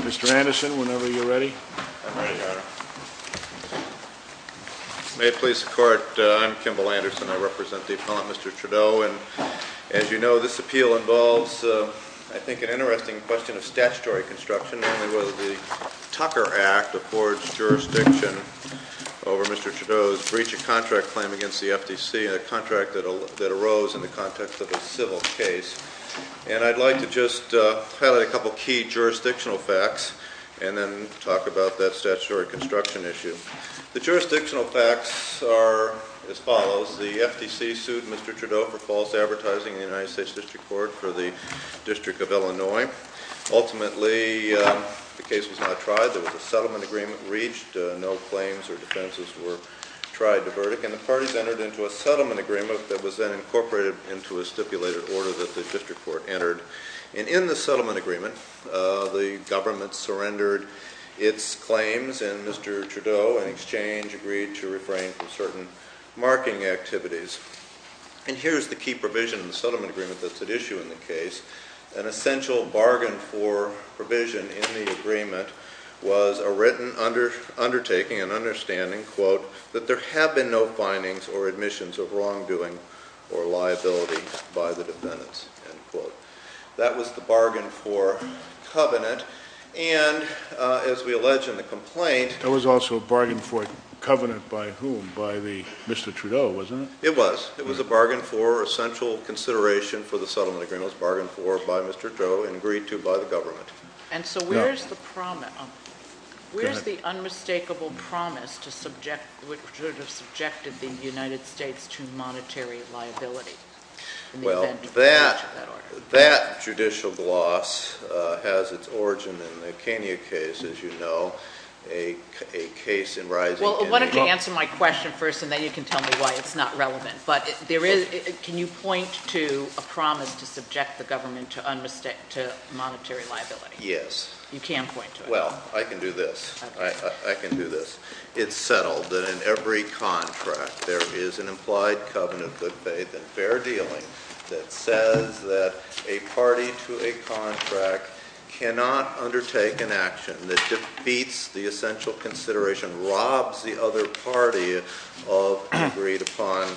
Mr. Anderson, whenever you're ready. I'm ready, Your Honor. May it please the Court, I'm Kimball Anderson. I represent the Appellant, Mr. Trudeau. And, as you know, this appeal involves, I think, an interesting question of statutory construction, namely whether the Tucker Act affords jurisdiction over Mr. Trudeau's breach of contract claim against the FTC, a contract that arose in the context of a civil case. And I'd like to just highlight a couple of key jurisdictional facts and then talk about that statutory construction issue. The jurisdictional facts are as follows. The FTC sued Mr. Trudeau for false advertising in the United States District Court for the District of Illinois. Ultimately, the case was not tried. There was a settlement agreement reached. No claims or defenses were tried to verdict. And the parties entered into a settlement agreement that was then incorporated into a stipulated order that the District Court entered. And in the settlement agreement, the government surrendered its claims, and Mr. Trudeau, in exchange, agreed to refrain from certain marking activities. And here's the key provision in the settlement agreement that's at issue in the case. An essential bargain for provision in the agreement was a written undertaking, an understanding, quote, that there have been no findings or admissions of wrongdoing or liability by the defendants, end quote. That was the bargain for covenant. And as we allege in the complaint- There was also a bargain for covenant by whom? By Mr. Trudeau, wasn't it? It was. It was a bargain for essential consideration for the settlement agreement. It was a bargain for by Mr. Trudeau and agreed to by the government. And so where's the promise- where's the unmistakable promise to subject- which would have subjected the United States to monetary liability in the event of the breach of that order? Well, that judicial gloss has its origin in the Kenya case, as you know, a case in rising- Well, why don't you answer my question first, and then you can tell me why it's not relevant. But there is- can you point to a promise to subject the government to monetary liability? Yes. You can point to it. Well, I can do this. I can do this. It's settled that in every contract there is an implied covenant of good faith and fair dealing that says that a party to a contract cannot undertake an action that defeats the essential consideration, robs the other party of an agreed-upon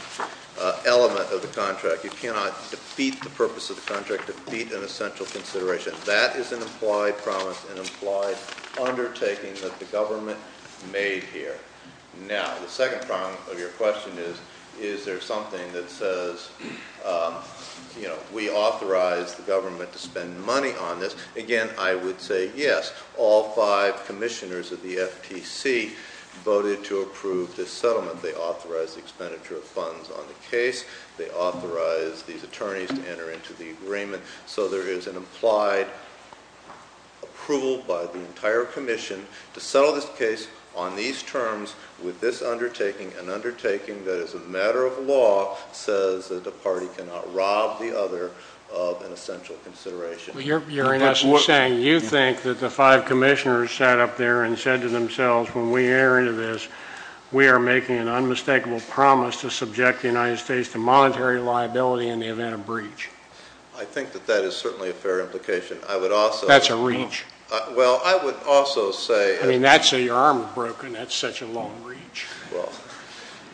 element of the contract. You cannot defeat the purpose of the contract, defeat an essential consideration. That is an implied promise, an implied undertaking that the government made here. Now, the second part of your question is, is there something that says, you know, we authorize the government to spend money on this? Again, I would say yes. All five commissioners of the FTC voted to approve this settlement. They authorized the expenditure of funds on the case. They authorized these attorneys to enter into the agreement. So there is an implied approval by the entire commission to settle this case on these terms with this undertaking, an undertaking that as a matter of law says that the party cannot rob the other of an essential consideration. You're in essence saying you think that the five commissioners sat up there and said to themselves, when we enter into this, we are making an unmistakable promise to subject the United States to monetary liability in the event of breach. I think that that is certainly a fair implication. I would also – That's a reach. Well, I would also say – I mean, that's a – your arm is broken. That's such a long reach. Well,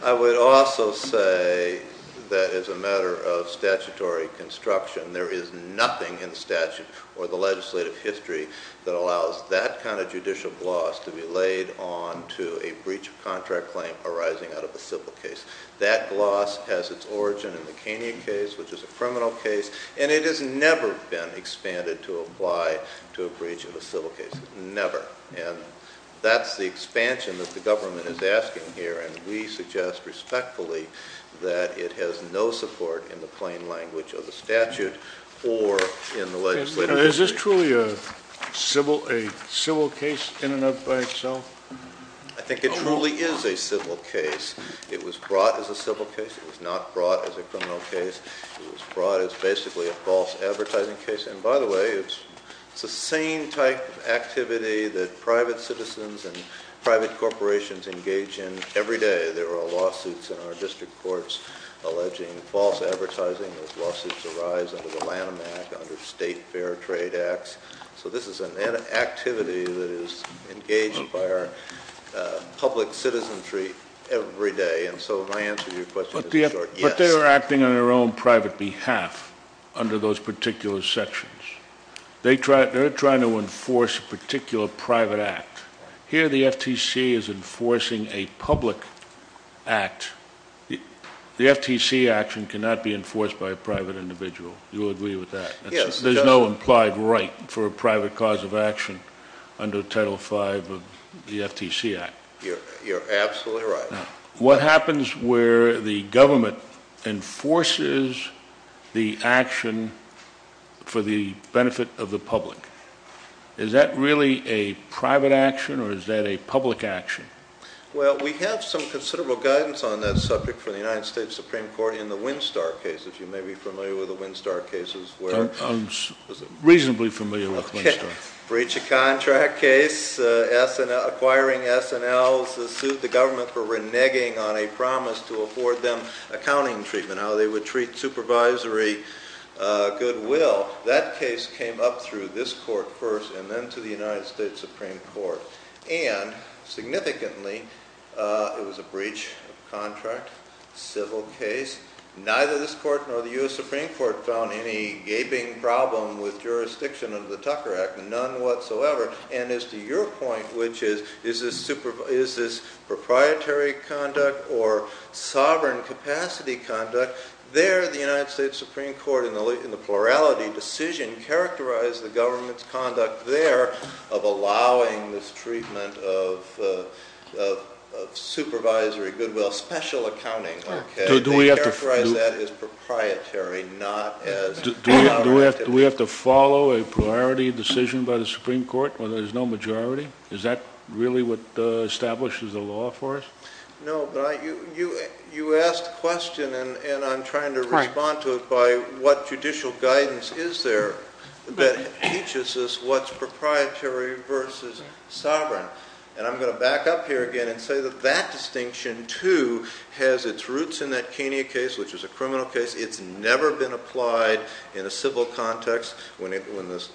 I would also say that as a matter of statutory construction, there is nothing in the statute or the legislative history that allows that kind of judicial gloss to be laid onto a breach of contract claim arising out of a civil case. That gloss has its origin in the Kenya case, which is a criminal case, and it has never been expanded to apply to a breach of a civil case. Never. And that's the expansion that the government is asking here, and we suggest respectfully that it has no support in the plain language of the statute or in the legislative history. Is this truly a civil case in and of itself? I think it truly is a civil case. It was brought as a civil case. It was not brought as a criminal case. It was brought as basically a false advertising case. And by the way, it's the same type of activity that private citizens and private corporations engage in every day. There are lawsuits in our district courts alleging false advertising. Those lawsuits arise under the Lanham Act, under state fair trade acts. So this is an activity that is engaged by our public citizenry every day. And so my answer to your question is a short yes. But they are acting on their own private behalf under those particular sections. They're trying to enforce a particular private act. Here the FTC is enforcing a public act. The FTC action cannot be enforced by a private individual. You'll agree with that. There's no implied right for a private cause of action under Title V of the FTC Act. You're absolutely right. Now, what happens where the government enforces the action for the benefit of the public? Is that really a private action or is that a public action? Well, we have some considerable guidance on that subject for the United States Supreme Court in the Winstar cases. You may be familiar with the Winstar cases. I'm reasonably familiar with Winstar. Breach of contract case. Acquiring S&Ls sued the government for reneging on a promise to afford them accounting treatment, how they would treat supervisory goodwill. That case came up through this court first and then to the United States Supreme Court. And significantly, it was a breach of contract. Civil case. Neither this court nor the U.S. Supreme Court found any gaping problem with jurisdiction under the Tucker Act, none whatsoever. And as to your point, which is, is this proprietary conduct or sovereign capacity conduct, there the United States Supreme Court in the plurality decision characterized the government's conduct there of allowing this treatment of supervisory goodwill, special accounting. They characterize that as proprietary, not as sovereign. Do we have to follow a priority decision by the Supreme Court when there's no majority? Is that really what establishes the law for us? No, but you asked a question and I'm trying to respond to it by what judicial guidance is there that teaches us what's proprietary versus sovereign. And I'm going to back up here again and say that that distinction, too, has its roots in that Kenya case, which is a criminal case. It's never been applied in a civil context when this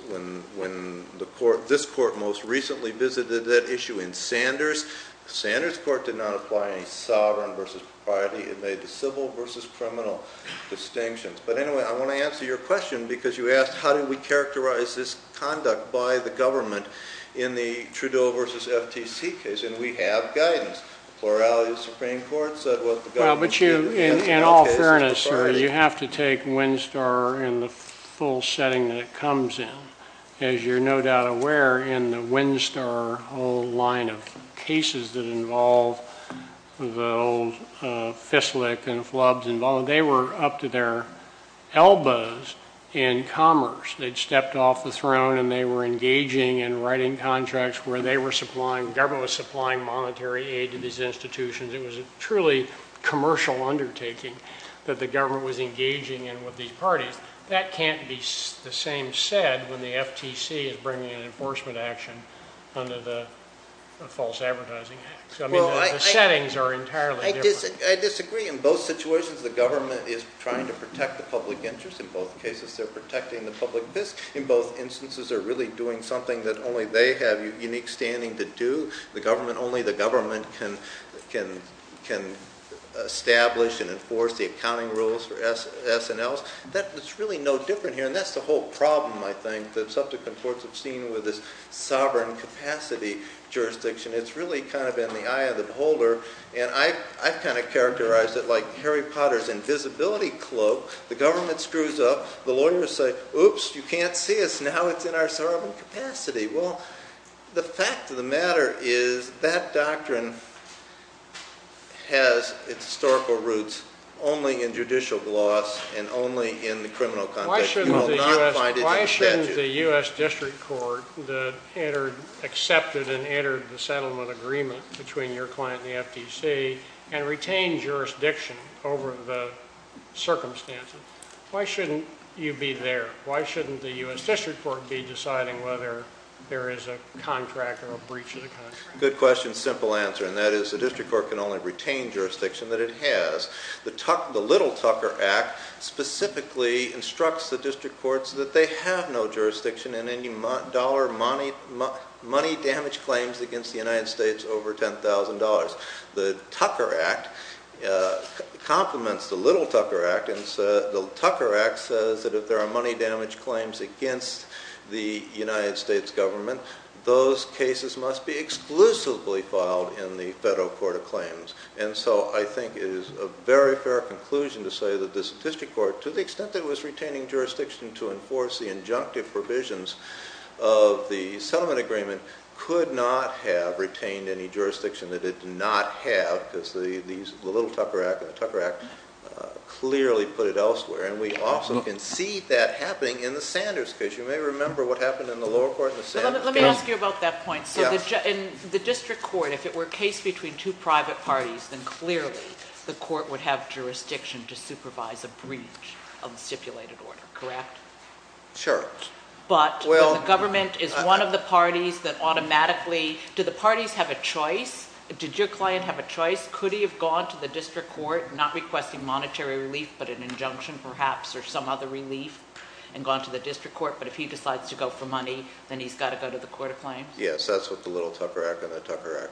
court most recently visited that issue in Sanders. Sanders court did not apply any sovereign versus propriety. It made the civil versus criminal distinctions. But anyway, I want to answer your question because you asked how do we characterize this conduct by the government in the Trudeau versus FTC case? And we have guidance. Plurality of the Supreme Court said what the government said. Well, but you, in all fairness, sir, you have to take Winstar in the full setting that it comes in. As you're no doubt aware, in the Winstar whole line of cases that involve the old FISLIC and FLUBS involved, they were up to their elbows in commerce. They'd stepped off the throne and they were engaging in writing contracts where they were supplying, the government was supplying monetary aid to these institutions. It was a truly commercial undertaking that the government was engaging in with these parties. That can't be the same said when the FTC is bringing an enforcement action under the false advertising act. I mean, the settings are entirely different. I disagree. In both situations, the government is trying to protect the public interest. In both cases, they're protecting the public interest. In both instances, they're really doing something that only they have unique standing to do, the government. Only the government can establish and enforce the accounting rules for S&Ls. That's really no different here, and that's the whole problem, I think, that subsequent courts have seen with this sovereign capacity jurisdiction. It's really kind of in the eye of the beholder. And I've kind of characterized it like Harry Potter's invisibility cloak. The government screws up. The lawyers say, oops, you can't see us. Now it's in our sovereign capacity. Well, the fact of the matter is that doctrine has its historical roots only in judicial gloss and only in the criminal context. Why shouldn't the U.S. district court that accepted and entered the settlement agreement between your client and the FTC and retain jurisdiction over the circumstances, why shouldn't you be there? Why shouldn't the U.S. district court be deciding whether there is a contract or a breach of the contract? Good question. Simple answer, and that is the district court can only retain jurisdiction that it has. The Little Tucker Act specifically instructs the district courts that they have no jurisdiction in any dollar money damage claims against the United States over $10,000. The Tucker Act complements the Little Tucker Act, and the Tucker Act says that if there are money damage claims against the United States government, those cases must be exclusively filed in the federal court of claims. And so I think it is a very fair conclusion to say that this district court, to the extent that it was retaining jurisdiction to enforce the injunctive provisions of the settlement agreement, could not have retained any jurisdiction that it did not have because the Little Tucker Act and the Tucker Act clearly put it elsewhere. And we also can see that happening in the Sanders case. You may remember what happened in the lower court in the Sanders case. Let me ask you about that point. In the district court, if it were a case between two private parties, then clearly the court would have jurisdiction to supervise a breach of the stipulated order, correct? Sure. But the government is one of the parties that automatically – do the parties have a choice? Did your client have a choice? Could he have gone to the district court, not requesting monetary relief but an injunction perhaps or some other relief, and gone to the district court? But if he decides to go for money, then he's got to go to the court of claims? Yes, that's what the Little Tucker Act and the Tucker Act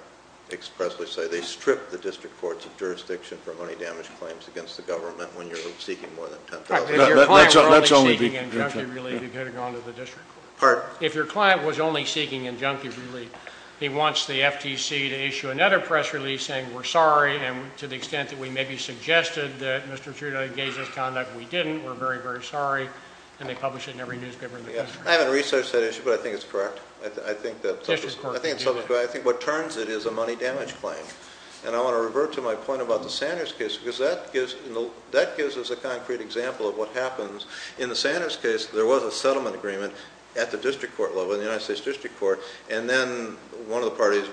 expressly say. They strip the district courts of jurisdiction for money damage claims against the government when you're seeking more than $10,000. If your client was only seeking injunctive relief, he could have gone to the district court. Pardon? If your client was only seeking injunctive relief, he wants the FTC to issue another press release saying we're sorry and to the extent that we maybe suggested that Mr. Trudeau engage this conduct, we didn't. We're very, very sorry, and they publish it in every newspaper in the country. I haven't researched that issue, but I think it's correct. I think what turns it is a money damage claim. And I want to revert to my point about the Sanders case because that gives us a concrete example of what happens. In the Sanders case, there was a settlement agreement at the district court level, the United States District Court, and then one of the parties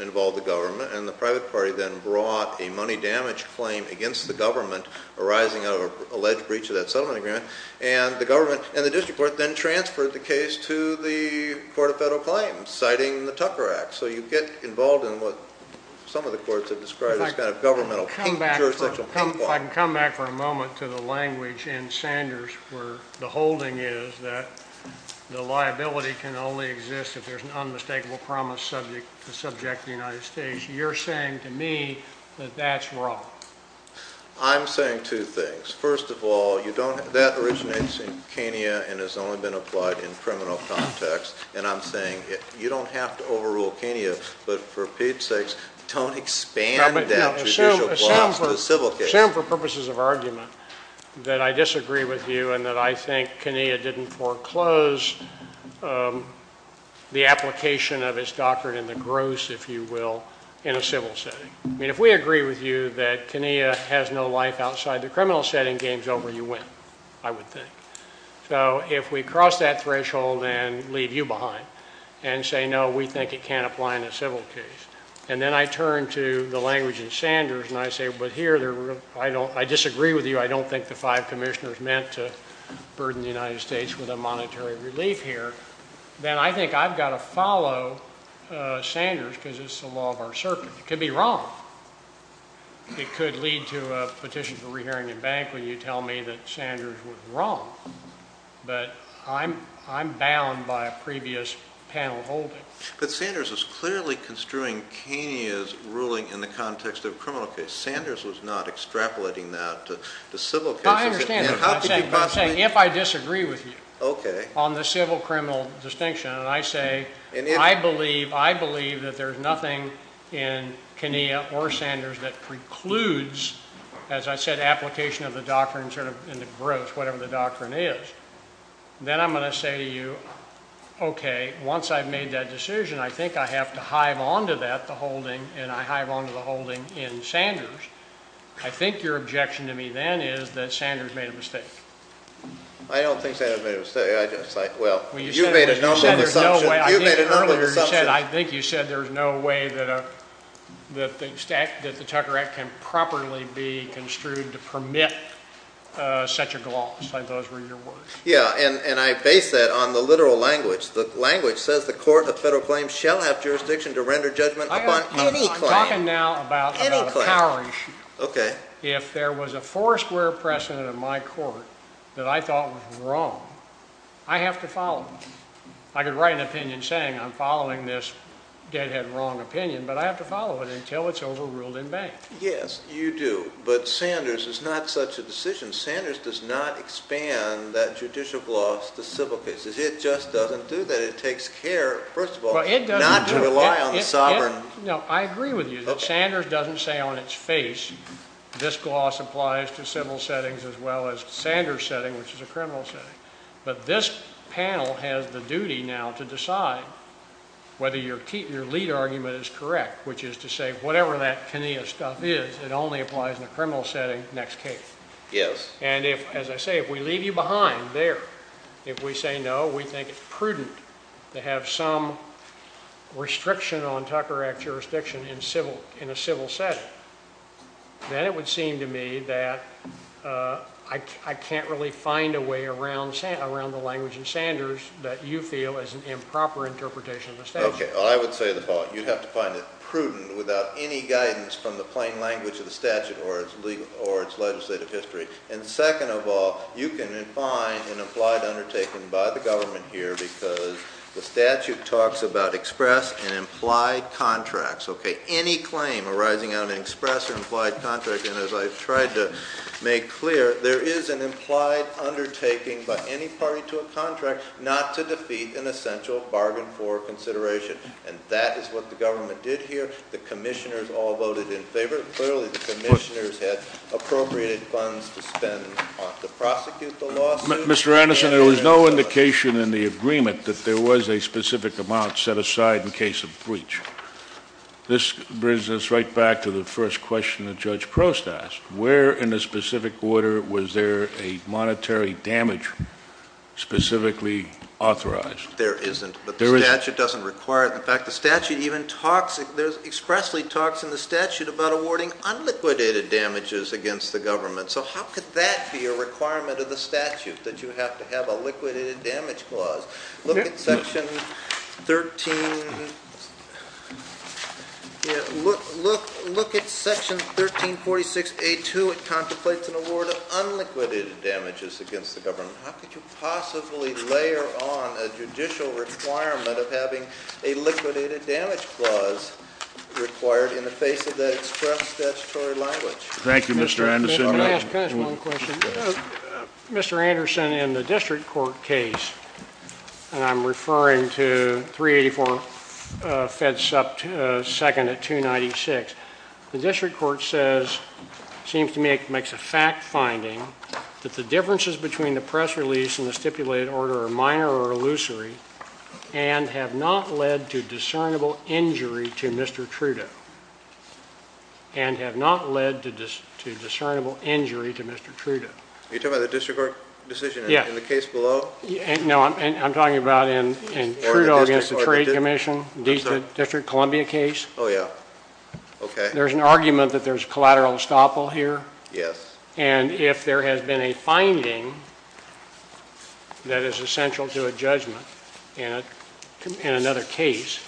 involved the government, and the private party then brought a money damage claim against the government arising out of an alleged breach of that settlement agreement, and the government and the district court then transferred the case to the Court of Federal Claims, citing the Tucker Act. So you get involved in what some of the courts have described as kind of governmental jurisdiction. If I can come back for a moment to the language in Sanders where the holding is that the liability can only exist if there's an unmistakable promise subject to the United States. You're saying to me that that's wrong. I'm saying two things. First of all, that originates in Kenya and has only been applied in criminal context, and I'm saying you don't have to overrule Kenya, but for Pete's sakes, don't expand that judicial gloss to the civil case. Assume for purposes of argument that I disagree with you and that I think Kenya didn't foreclose the application of its doctrine in the gross, if you will, in a civil setting. I mean, if we agree with you that Kenya has no life outside the criminal setting, game's over, you win, I would think. So if we cross that threshold and leave you behind and say, no, we think it can't apply in a civil case, and then I turn to the language in Sanders and I say, but here I disagree with you, I don't think the five commissioners meant to burden the United States with a monetary relief here, then I think I've got to follow Sanders because it's the law of our circuit. It could be wrong. It could lead to a petition for rehearing in bank when you tell me that Sanders was wrong. But I'm bound by a previous panel holding. But Sanders was clearly construing Kenya's ruling in the context of a criminal case. Sanders was not extrapolating that to civil cases. I understand that, but I'm saying if I disagree with you on the civil-criminal distinction and I say, I believe that there's nothing in Kenya or Sanders that precludes, as I said, application of the doctrine sort of in the gross, whatever the doctrine is, then I'm going to say to you, okay, once I've made that decision, I think I have to hive onto that, the holding, and I hive onto the holding in Sanders. I think your objection to me then is that Sanders made a mistake. I don't think Sanders made a mistake. Well, you made a notion of the substance. You made a notion of the substance. I think you said there's no way that the Tucker Act can properly be construed to permit such a gloss. I thought those were your words. Yeah, and I base that on the literal language. The language says the court of federal claims shall have jurisdiction to render judgment upon any claim. I'm talking now about the power issue. Okay. If there was a four-square precedent in my court that I thought was wrong, I have to follow it. I could write an opinion saying I'm following this deadhead wrong opinion, but I have to follow it until it's overruled and banned. Yes, you do, but Sanders is not such a decision. Sanders does not expand that judicial gloss to civil cases. It just doesn't do that. It takes care, first of all, not to rely on sovereign. No, I agree with you that Sanders doesn't say on its face this gloss applies to civil settings as well as Sanders' setting, which is a criminal setting. But this panel has the duty now to decide whether your lead argument is correct, which is to say whatever that Kenia stuff is, it only applies in a criminal setting next case. Yes. And if, as I say, if we leave you behind there, if we say no, we think it's prudent to have some restriction on Tucker Act jurisdiction in a civil setting, then it would seem to me that I can't really find a way around the language in Sanders that you feel is an improper interpretation of the statute. OK, well, I would say the following. You'd have to find it prudent without any guidance from the plain language of the statute or its legislative history. And second of all, you can find an implied undertaking by the government here because the statute talks about express and implied contracts. OK, any claim arising out of an express or implied contract, and as I've tried to make clear, there is an implied undertaking by any party to a contract not to defeat an essential bargain for consideration. And that is what the government did here. The commissioners all voted in favor. Clearly, the commissioners had appropriated funds to spend to prosecute the lawsuit. Mr. Anderson, there was no indication in the agreement that there was a specific amount set aside in case of breach. This brings us right back to the first question that Judge Prost asked. Where in a specific order was there a monetary damage specifically authorized? There isn't, but the statute doesn't require it. In fact, the statute even talks, expressly talks in the statute about awarding unliquidated damages against the government. So how could that be a requirement of the statute that you have to have a liquidated damage clause? Look at Section 1346A2. It contemplates an award of unliquidated damages against the government. How could you possibly layer on a judicial requirement of having a liquidated damage clause required in the face of that express statutory language? Thank you, Mr. Anderson. May I ask just one question? Mr. Anderson, in the district court case, and I'm referring to 384 FEDSUP 2nd at 296, the district court says, seems to me it makes a fact finding that the differences between the press release and the stipulated order are minor or illusory and have not led to discernible injury to Mr. Trudeau. And have not led to discernible injury to Mr. Trudeau. Are you talking about the district court decision in the case below? No, I'm talking about in Trudeau against the Trade Commission, District of Columbia case. Oh, yeah. Okay. There's an argument that there's collateral estoppel here. Yes. And if there has been a finding that is essential to a judgment in another case,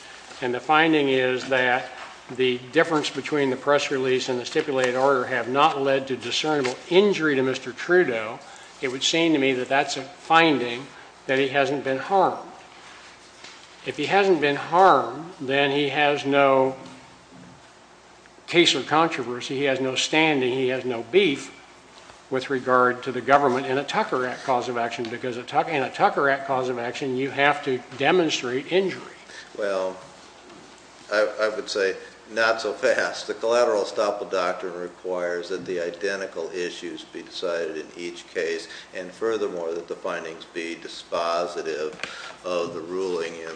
and the finding is that the difference between the press release and the stipulated order have not led to discernible injury to Mr. Trudeau, it would seem to me that that's a finding that he hasn't been harmed. If he hasn't been harmed, then he has no case of controversy. He has no standing, he has no beef with regard to the government in a Tucker Act cause of action because in a Tucker Act cause of action you have to demonstrate injury. Well, I would say not so fast. The collateral estoppel doctrine requires that the identical issues be decided in each case and furthermore that the findings be dispositive of the ruling in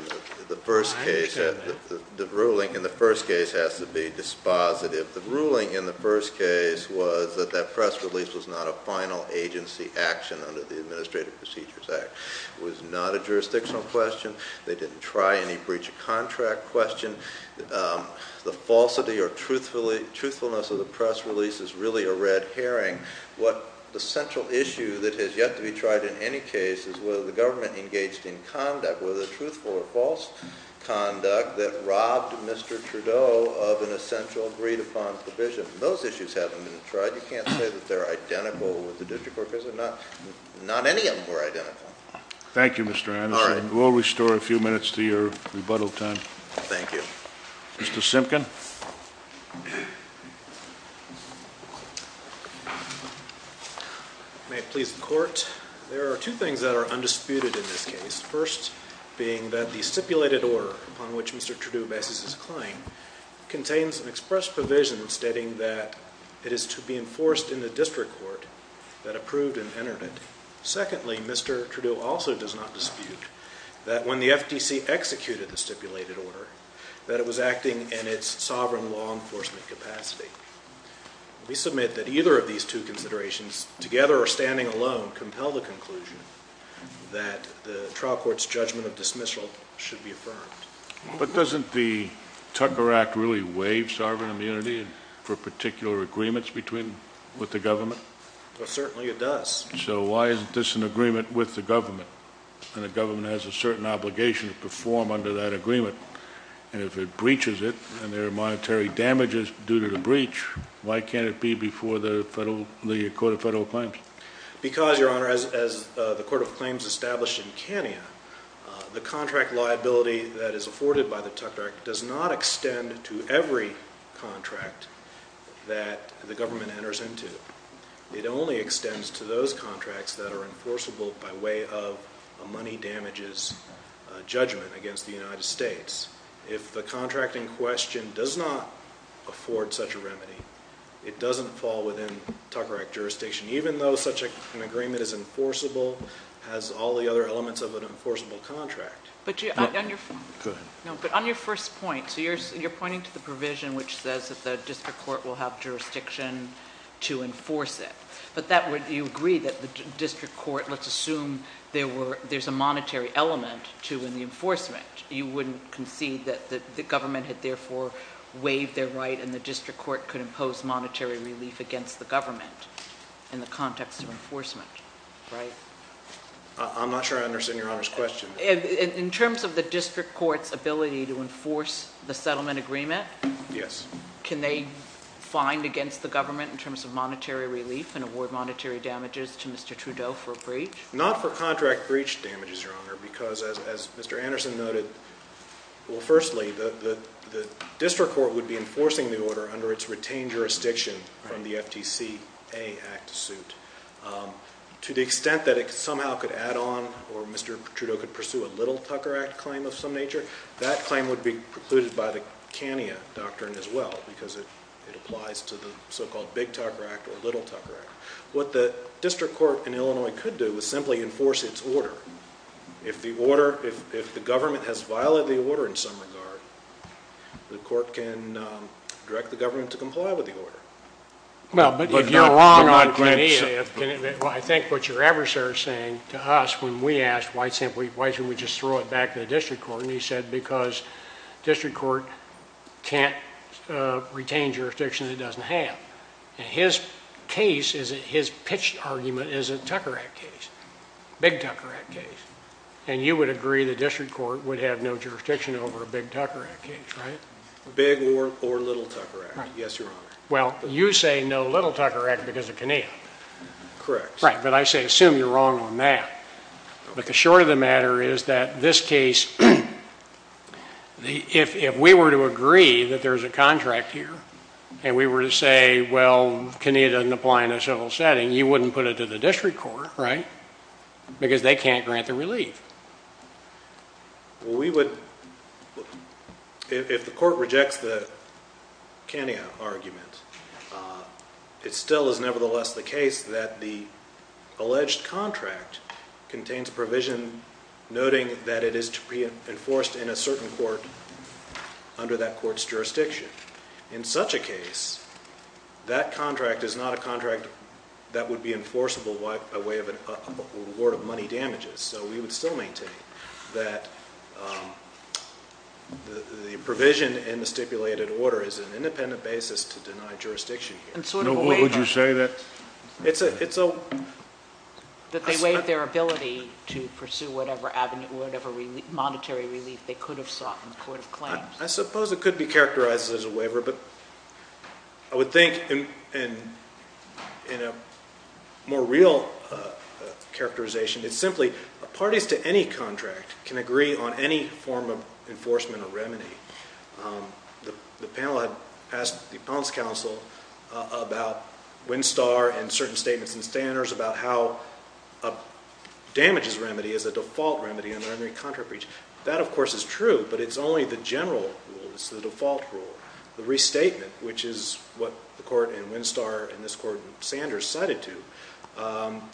the first case. I understand that. The ruling in the first case has to be dispositive. The ruling in the first case was that that press release was not a final agency action under the Administrative Procedures Act. It was not a jurisdictional question. They didn't try any breach of contract question. The falsity or truthfulness of the press release is really a red herring. What the central issue that has yet to be tried in any case is whether the government engaged in conduct, whether truthful or false conduct, that robbed Mr. Trudeau of an essential agreed upon provision. Those issues haven't been tried. You can't say that they're identical with the district court cases. Not any of them were identical. Thank you, Mr. Anderson. All right. We'll restore a few minutes to your rebuttal time. Thank you. Mr. Simpkin. May it please the Court. There are two things that are undisputed in this case. First being that the stipulated order upon which Mr. Trudeau bases his claim contains an express provision stating that it is to be enforced in the district court that approved and entered it. Secondly, Mr. Trudeau also does not dispute that when the FTC executed the stipulated order that it was acting in its sovereign law enforcement capacity. We submit that either of these two considerations together or standing alone compel the conclusion that the trial court's judgment of dismissal should be affirmed. But doesn't the Tucker Act really waive sovereign immunity for particular agreements with the government? Well, certainly it does. So why isn't this an agreement with the government? And the government has a certain obligation to perform under that agreement. And if it breaches it and there are monetary damages due to the breach, why can't it be before the Court of Federal Claims? Because, Your Honor, as the Court of Claims established in Kenya, the contract liability that is afforded by the Tucker Act does not extend to every contract that the government enters into. It only extends to those contracts that are enforceable by way of a money damages judgment against the United States. If the contract in question does not afford such a remedy, it doesn't fall within Tucker Act jurisdiction. Even though such an agreement is enforceable, has all the other elements of an enforceable contract. But on your first point, so you're pointing to the provision which says that the district court will have jurisdiction to enforce it. But you agree that the district court, let's assume there's a monetary element, too, in the enforcement. You wouldn't concede that the government had therefore waived their right and the district court could impose monetary relief against the government in the context of enforcement, right? I'm not sure I understand Your Honor's question. In terms of the district court's ability to enforce the settlement agreement? Yes. Can they find against the government in terms of monetary relief and award monetary damages to Mr. Trudeau for a breach? Not for contract breach damages, Your Honor, because as Mr. Anderson noted, well, firstly, the district court would be enforcing the order under its retained jurisdiction from the FTCA Act suit. To the extent that it somehow could add on or Mr. Trudeau could pursue a little Tucker Act claim of some nature, that claim would be precluded by the CANIA doctrine as well because it applies to the so-called big Tucker Act or little Tucker Act. What the district court in Illinois could do is simply enforce its order. If the order, if the government has violated the order in some regard, the court can direct the government to comply with the order. Well, but if you're wrong on CANIA, I think what your adversary was saying to us when we asked, why simply, why shouldn't we just throw it back to the district court? And he said because district court can't retain jurisdiction it doesn't have. And his case, his pitched argument is a Tucker Act case, big Tucker Act case. And you would agree the district court would have no jurisdiction over a big Tucker Act case, right? Big or little Tucker Act, yes, Your Honor. Well, you say no little Tucker Act because of CANIA. Correct. Right, but I say assume you're wrong on that. But the short of the matter is that this case, if we were to agree that there's a contract here and we were to say, well, CANIA doesn't apply in a civil setting, you wouldn't put it to the district court, right? Because they can't grant the relief. Well, we would, if the court rejects the CANIA argument, it still is nevertheless the case that the alleged contract contains provision noting that it is to be enforced in a certain court under that court's jurisdiction. In such a case, that contract is not a contract that would be enforceable by way of an award of money damages. So we would still maintain that the provision in the stipulated order is an independent basis to deny jurisdiction here. And sort of a waiver. No, what would you say that? It's a... That they waive their ability to pursue whatever avenue, whatever monetary relief they could have sought in court of claims. I suppose it could be characterized as a waiver, but I would think in a more real characterization, it's simply parties to any contract can agree on any form of enforcement or remedy. The panel had asked the Appellant's Counsel about WinSTAR and certain statements in standards about how a damages remedy is a default remedy under any contract breach. That, of course, is true, but it's only the general rule. It's the default rule. The restatement, which is what the court in WinSTAR and this court in Sanders cited to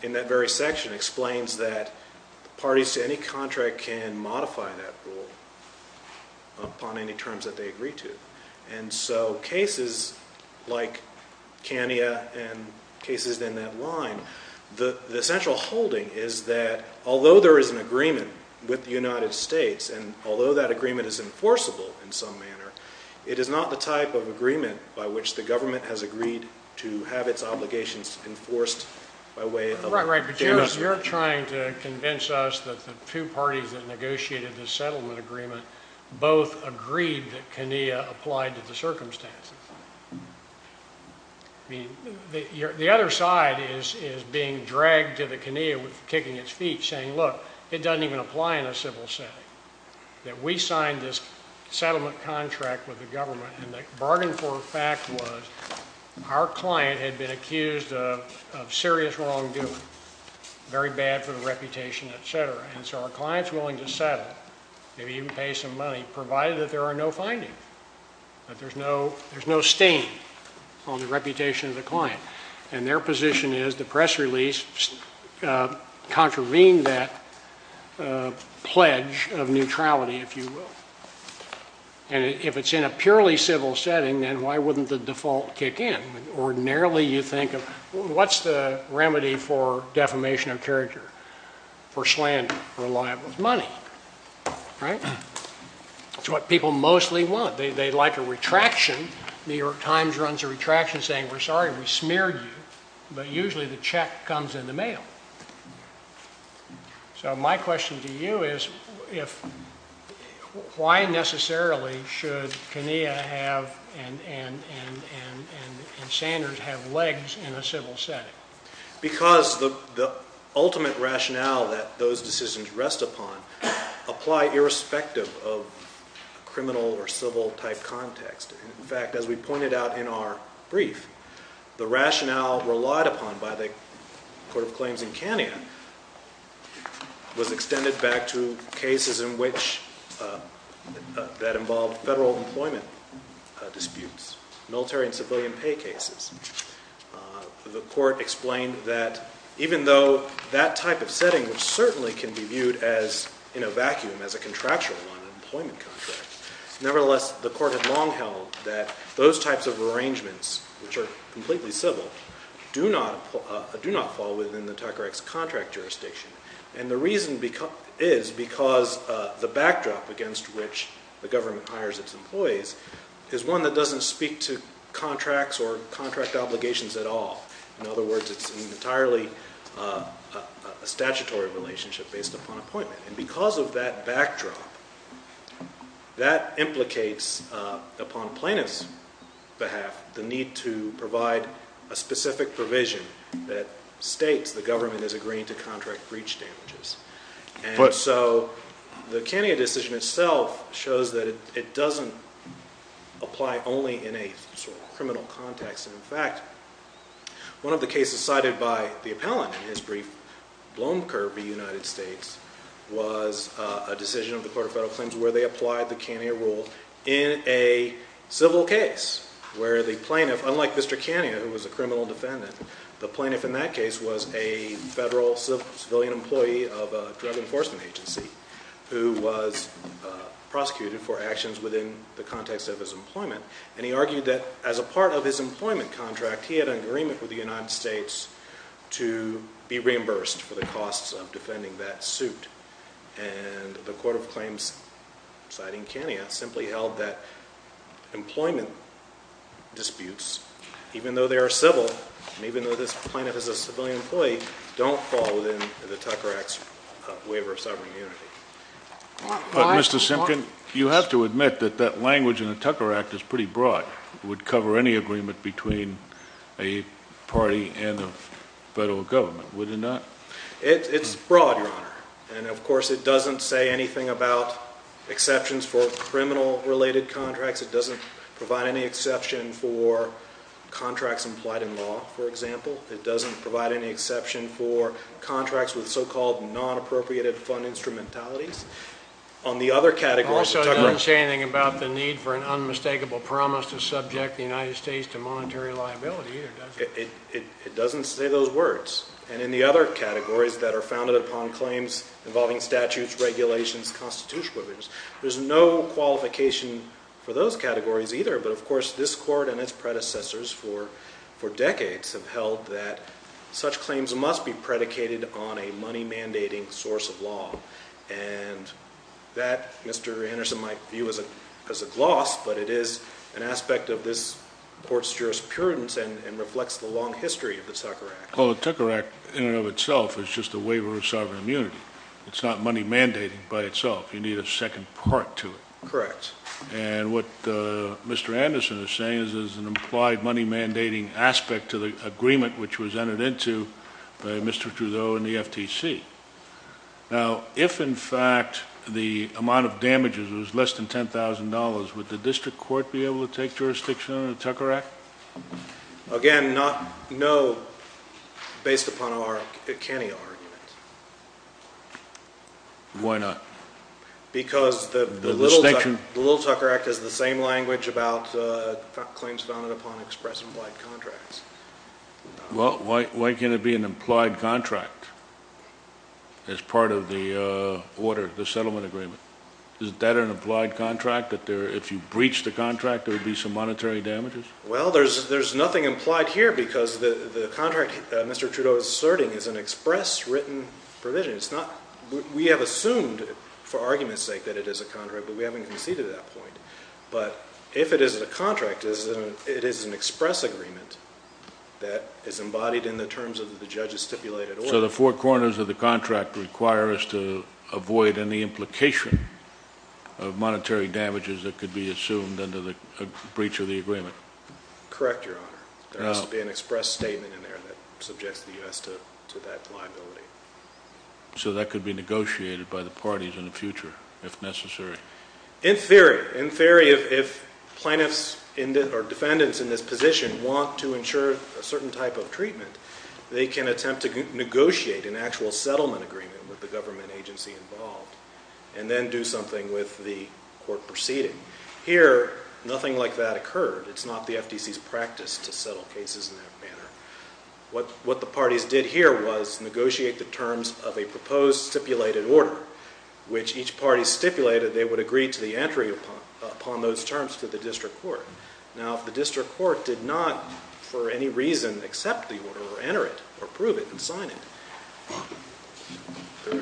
in that very section, explains that parties to any contract can modify that rule upon any terms that they agree to. And so cases like KANIA and cases in that line, the central holding is that although there is an agreement with the United States, and although that agreement is enforceable in some manner, it is not the type of agreement by which the government has agreed to have its obligations enforced by way of... Right, right, but you're trying to convince us that the two parties that negotiated the settlement agreement both agreed that KANIA applied to the circumstances. I mean, the other side is being dragged to the KANIA with kicking its feet, saying, look, it doesn't even apply in a civil setting, that we signed this settlement contract with the government, and the bargain for fact was our client had been accused of serious wrongdoing, very bad for the reputation, etc. And so our client's willing to settle, maybe even pay some money, provided that there are no findings, that there's no stain on the reputation of the client. And their position is the press release contravened that pledge of neutrality, if you will. And if it's in a purely civil setting, then why wouldn't the default kick in? Ordinarily, you think of, what's the remedy for defamation of character? For slander, reliable money, right? It's what people mostly want. They like a retraction. New York Times runs a retraction saying, we're sorry, we smeared you, but usually the check comes in the mail. So my question to you is, why necessarily should KANIA have and Sanders have legs in a civil setting? Because the ultimate rationale that those decisions rest upon apply irrespective of criminal or civil type context. In fact, as we pointed out in our brief, the rationale relied upon by the Court of Claims in KANIA was extended back to cases that involved federal employment disputes, military and civilian pay cases. The court explained that even though that type of setting certainly can be viewed in a vacuum as a contractual one, an employment contract, nevertheless, the court had long held that those types of arrangements, which are completely civil, do not fall within the TACRX contract jurisdiction. And the reason is because the backdrop against which the government hires its employees is one that doesn't speak to contracts or contract obligations at all. In other words, it's an entirely statutory relationship based upon appointment. And because of that backdrop, that implicates upon plaintiff's behalf the need to provide a specific provision that states the government is agreeing to contract breach damages. And so the KANIA decision itself shows that it doesn't apply only in a sort of criminal context. In fact, one of the cases cited by the appellant in his brief, Blomkirby, United States, was a decision of the Court of Federal Claims where they applied the KANIA rule in a civil case where the plaintiff, unlike Mr. KANIA, who was a criminal defendant, the plaintiff in that case was a federal civilian employee of a drug enforcement agency who was prosecuted for actions within the context of his employment. And he argued that as a part of his employment contract, he had an agreement with the United States to be reimbursed for the costs of defending that suit. And the Court of Claims, citing KANIA, simply held that employment disputes, even though they are civil and even though this plaintiff is a civilian employee, don't fall within the TACRX waiver of sovereign immunity. Mr. Simpkin, you have to admit that that language in the Tucker Act is pretty broad. It would cover any agreement between a party and a federal government, would it not? It's broad, Your Honor. And, of course, it doesn't say anything about exceptions for criminal-related contracts. It doesn't provide any exception for contracts implied in law, for example. It doesn't provide any exception for contracts with so-called non-appropriated fund instrumentalities. On the other category, the Tucker Act… It also doesn't say anything about the need for an unmistakable promise to subject the United States to monetary liability, either, does it? It doesn't say those words. And in the other categories that are founded upon claims involving statutes, regulations, constitutional provisions, there's no qualification for those categories either. But, of course, this Court and its predecessors for decades have held that such claims must be predicated on a money-mandating source of law. And that, Mr. Anderson might view as a gloss, but it is an aspect of this Court's jurisprudence and reflects the long history of the Tucker Act. Well, the Tucker Act in and of itself is just a waiver of sovereign immunity. It's not money-mandating by itself. You need a second part to it. Correct. And what Mr. Anderson is saying is there's an implied money-mandating aspect to the agreement which was entered into by Mr. Trudeau and the FTC. Now, if, in fact, the amount of damages was less than $10,000, would the district court be able to take jurisdiction under the Tucker Act? Again, no, based upon our Acani argument. Why not? Because the Little Tucker Act has the same language about claims founded upon express implied contracts. Well, why can't it be an implied contract as part of the order, the settlement agreement? Isn't that an implied contract that if you breach the contract, there would be some monetary damages? Well, there's nothing implied here because the contract Mr. Trudeau is asserting is an express written provision. We have assumed for argument's sake that it is a contract, but we haven't conceded that point. But if it is a contract, it is an express agreement that is embodied in the terms of the judge's stipulated order. So the four corners of the contract require us to avoid any implication of monetary damages that could be assumed under the breach of the agreement. Correct, Your Honor. There has to be an express statement in there that subjects the U.S. to that liability. So that could be negotiated by the parties in the future if necessary? In theory. In theory, if plaintiffs or defendants in this position want to ensure a certain type of treatment, they can attempt to negotiate an actual settlement agreement with the government agency involved and then do something with the court proceeding. Here, nothing like that occurred. It's not the FTC's practice to settle cases in that manner. What the parties did here was negotiate the terms of a proposed stipulated order, which each party stipulated they would agree to the entry upon those terms to the district court. Now, if the district court did not for any reason accept the order or enter it or approve it and sign it, there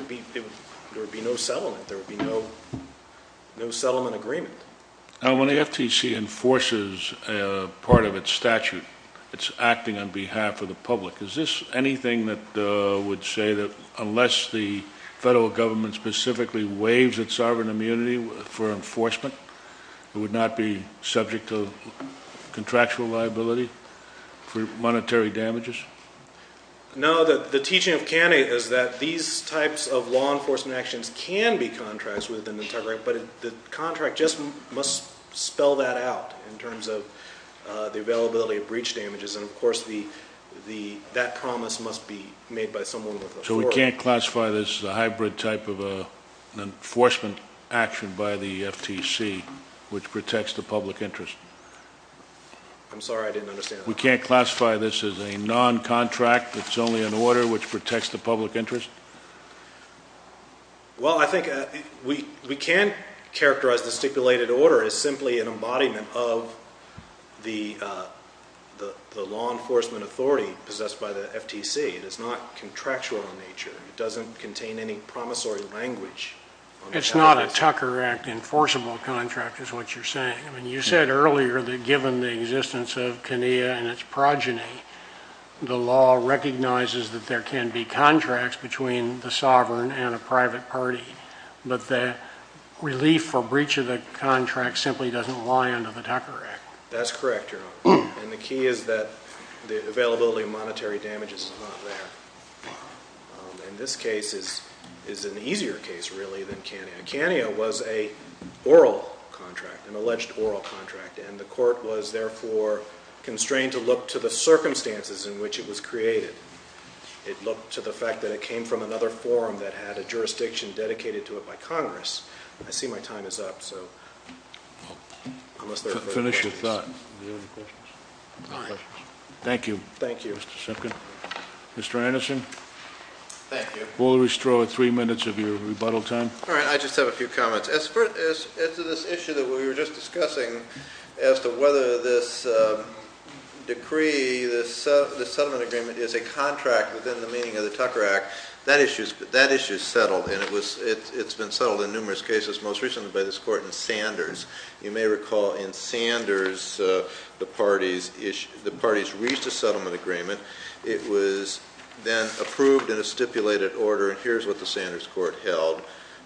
would be no settlement. There would be no settlement agreement. Now, when the FTC enforces part of its statute, it's acting on behalf of the public. Is this anything that would say that unless the federal government specifically waives its sovereign immunity for enforcement, it would not be subject to contractual liability for monetary damages? No, the teaching of Canning is that these types of law enforcement actions can be contracted with an integrity, but the contract just must spell that out in terms of the availability of breach damages, and, of course, that promise must be made by someone with authority. So we can't classify this as a hybrid type of an enforcement action by the FTC which protects the public interest? I'm sorry, I didn't understand that. We can't classify this as a noncontract that's only an order which protects the public interest? Well, I think we can characterize the stipulated order as simply an embodiment of the law enforcement authority possessed by the FTC. It is not contractual in nature. It doesn't contain any promissory language. It's not a Tucker Act enforceable contract is what you're saying. You said earlier that given the existence of CANIA and its progeny, the law recognizes that there can be contracts between the sovereign and a private party, but the relief for breach of the contract simply doesn't lie under the Tucker Act. That's correct, Your Honor, and the key is that the availability of monetary damages is not there. And this case is an easier case, really, than CANIA. CANIA was a oral contract, an alleged oral contract, and the court was therefore constrained to look to the circumstances in which it was created. It looked to the fact that it came from another forum that had a jurisdiction dedicated to it by Congress. I see my time is up, so unless there are further questions. Finish your thought. Any other questions? No questions. Thank you, Mr. Simpkin. Thank you. Mr. Anderson? Thank you. We'll restore three minutes of your rebuttal time. All right, I just have a few comments. As to this issue that we were just discussing as to whether this decree, this settlement agreement is a contract within the meaning of the Tucker Act, that issue is settled, and it's been settled in numerous cases, most recently by this court in Sanders. You may recall in Sanders the parties reached a settlement agreement. It was then approved in a stipulated order, and here's what the Sanders court held.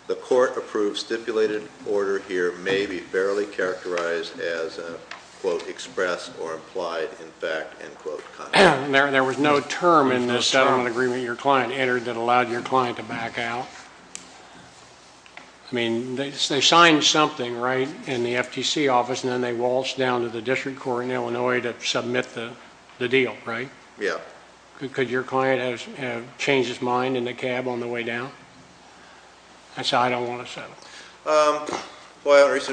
The court approved stipulated order here may be fairly characterized as a, quote, express or implied in fact, end quote, contract. There was no term in this settlement agreement your client entered that allowed your client to back out? I mean, they signed something, right, in the FTC office, and then they waltzed down to the district court in Illinois to submit the deal, right? Yeah. Could your client have changed his mind in the cab on the way down and say, I don't want to settle? Well, it's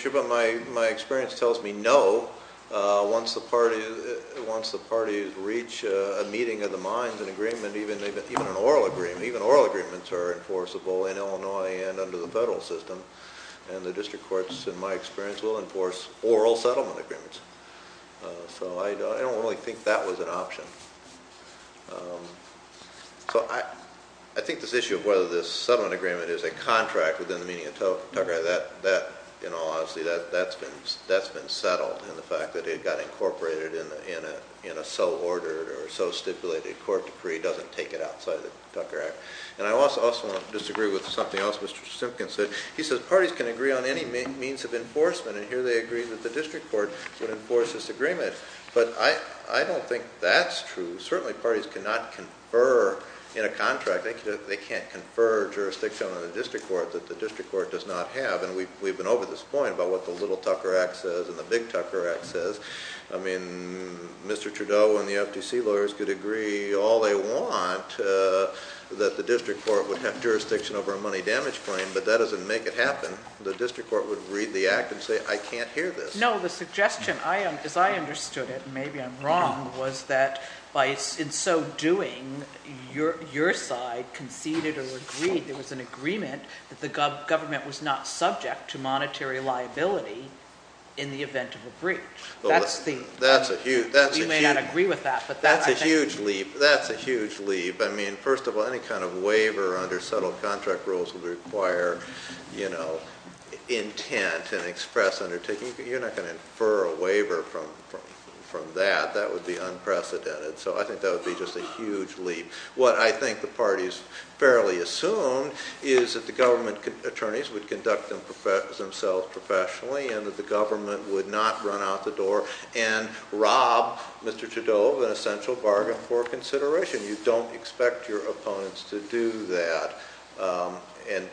true, but my experience tells me no. Once the parties reach a meeting of the minds, an agreement, even an oral agreement, even oral agreements are enforceable in Illinois and under the federal system, and the district courts, in my experience, will enforce oral settlement agreements. So I don't really think that was an option. So I think this issue of whether this settlement agreement is a contract within the meaning of Tucker Act, that, in all honesty, that's been settled in the fact that it got incorporated in a so-ordered or so-stipulated court decree doesn't take it outside of the Tucker Act. And I also want to disagree with something else Mr. Simpkins said. He said parties can agree on any means of enforcement, and here they agreed that the district court would enforce this agreement. But I don't think that's true. Certainly parties cannot confer in a contract. They can't confer jurisdiction on the district court that the district court does not have. And we've been over this point about what the little Tucker Act says and the big Tucker Act says. I mean, Mr. Trudeau and the FTC lawyers could agree all they want that the district court would have jurisdiction over a money damage claim, but that doesn't make it happen. The district court would read the act and say, I can't hear this. No, the suggestion, as I understood it, and maybe I'm wrong, was that in so doing your side conceded or agreed, there was an agreement that the government was not subject to monetary liability in the event of a breach. We may not agree with that. That's a huge leap. That's a huge leap. I mean, first of all, any kind of waiver under settled contract rules would require intent and express undertaking. You're not going to infer a waiver from that. That would be unprecedented. So I think that would be just a huge leap. What I think the parties fairly assume is that the government attorneys would conduct themselves professionally and that the government would not run out the door and rob Mr. Trudeau of an essential bargain for consideration. You don't expect your opponents to do that,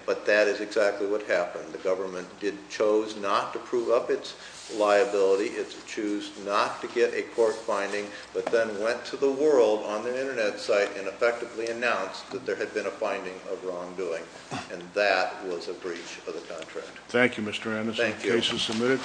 but that is exactly what happened. The government chose not to prove up its liability. It chose not to get a court finding, but then went to the world on their Internet site and effectively announced that there had been a finding of wrongdoing, and that was a breach of the contract. Thank you, Mr. Anderson. Thank you. The case is submitted.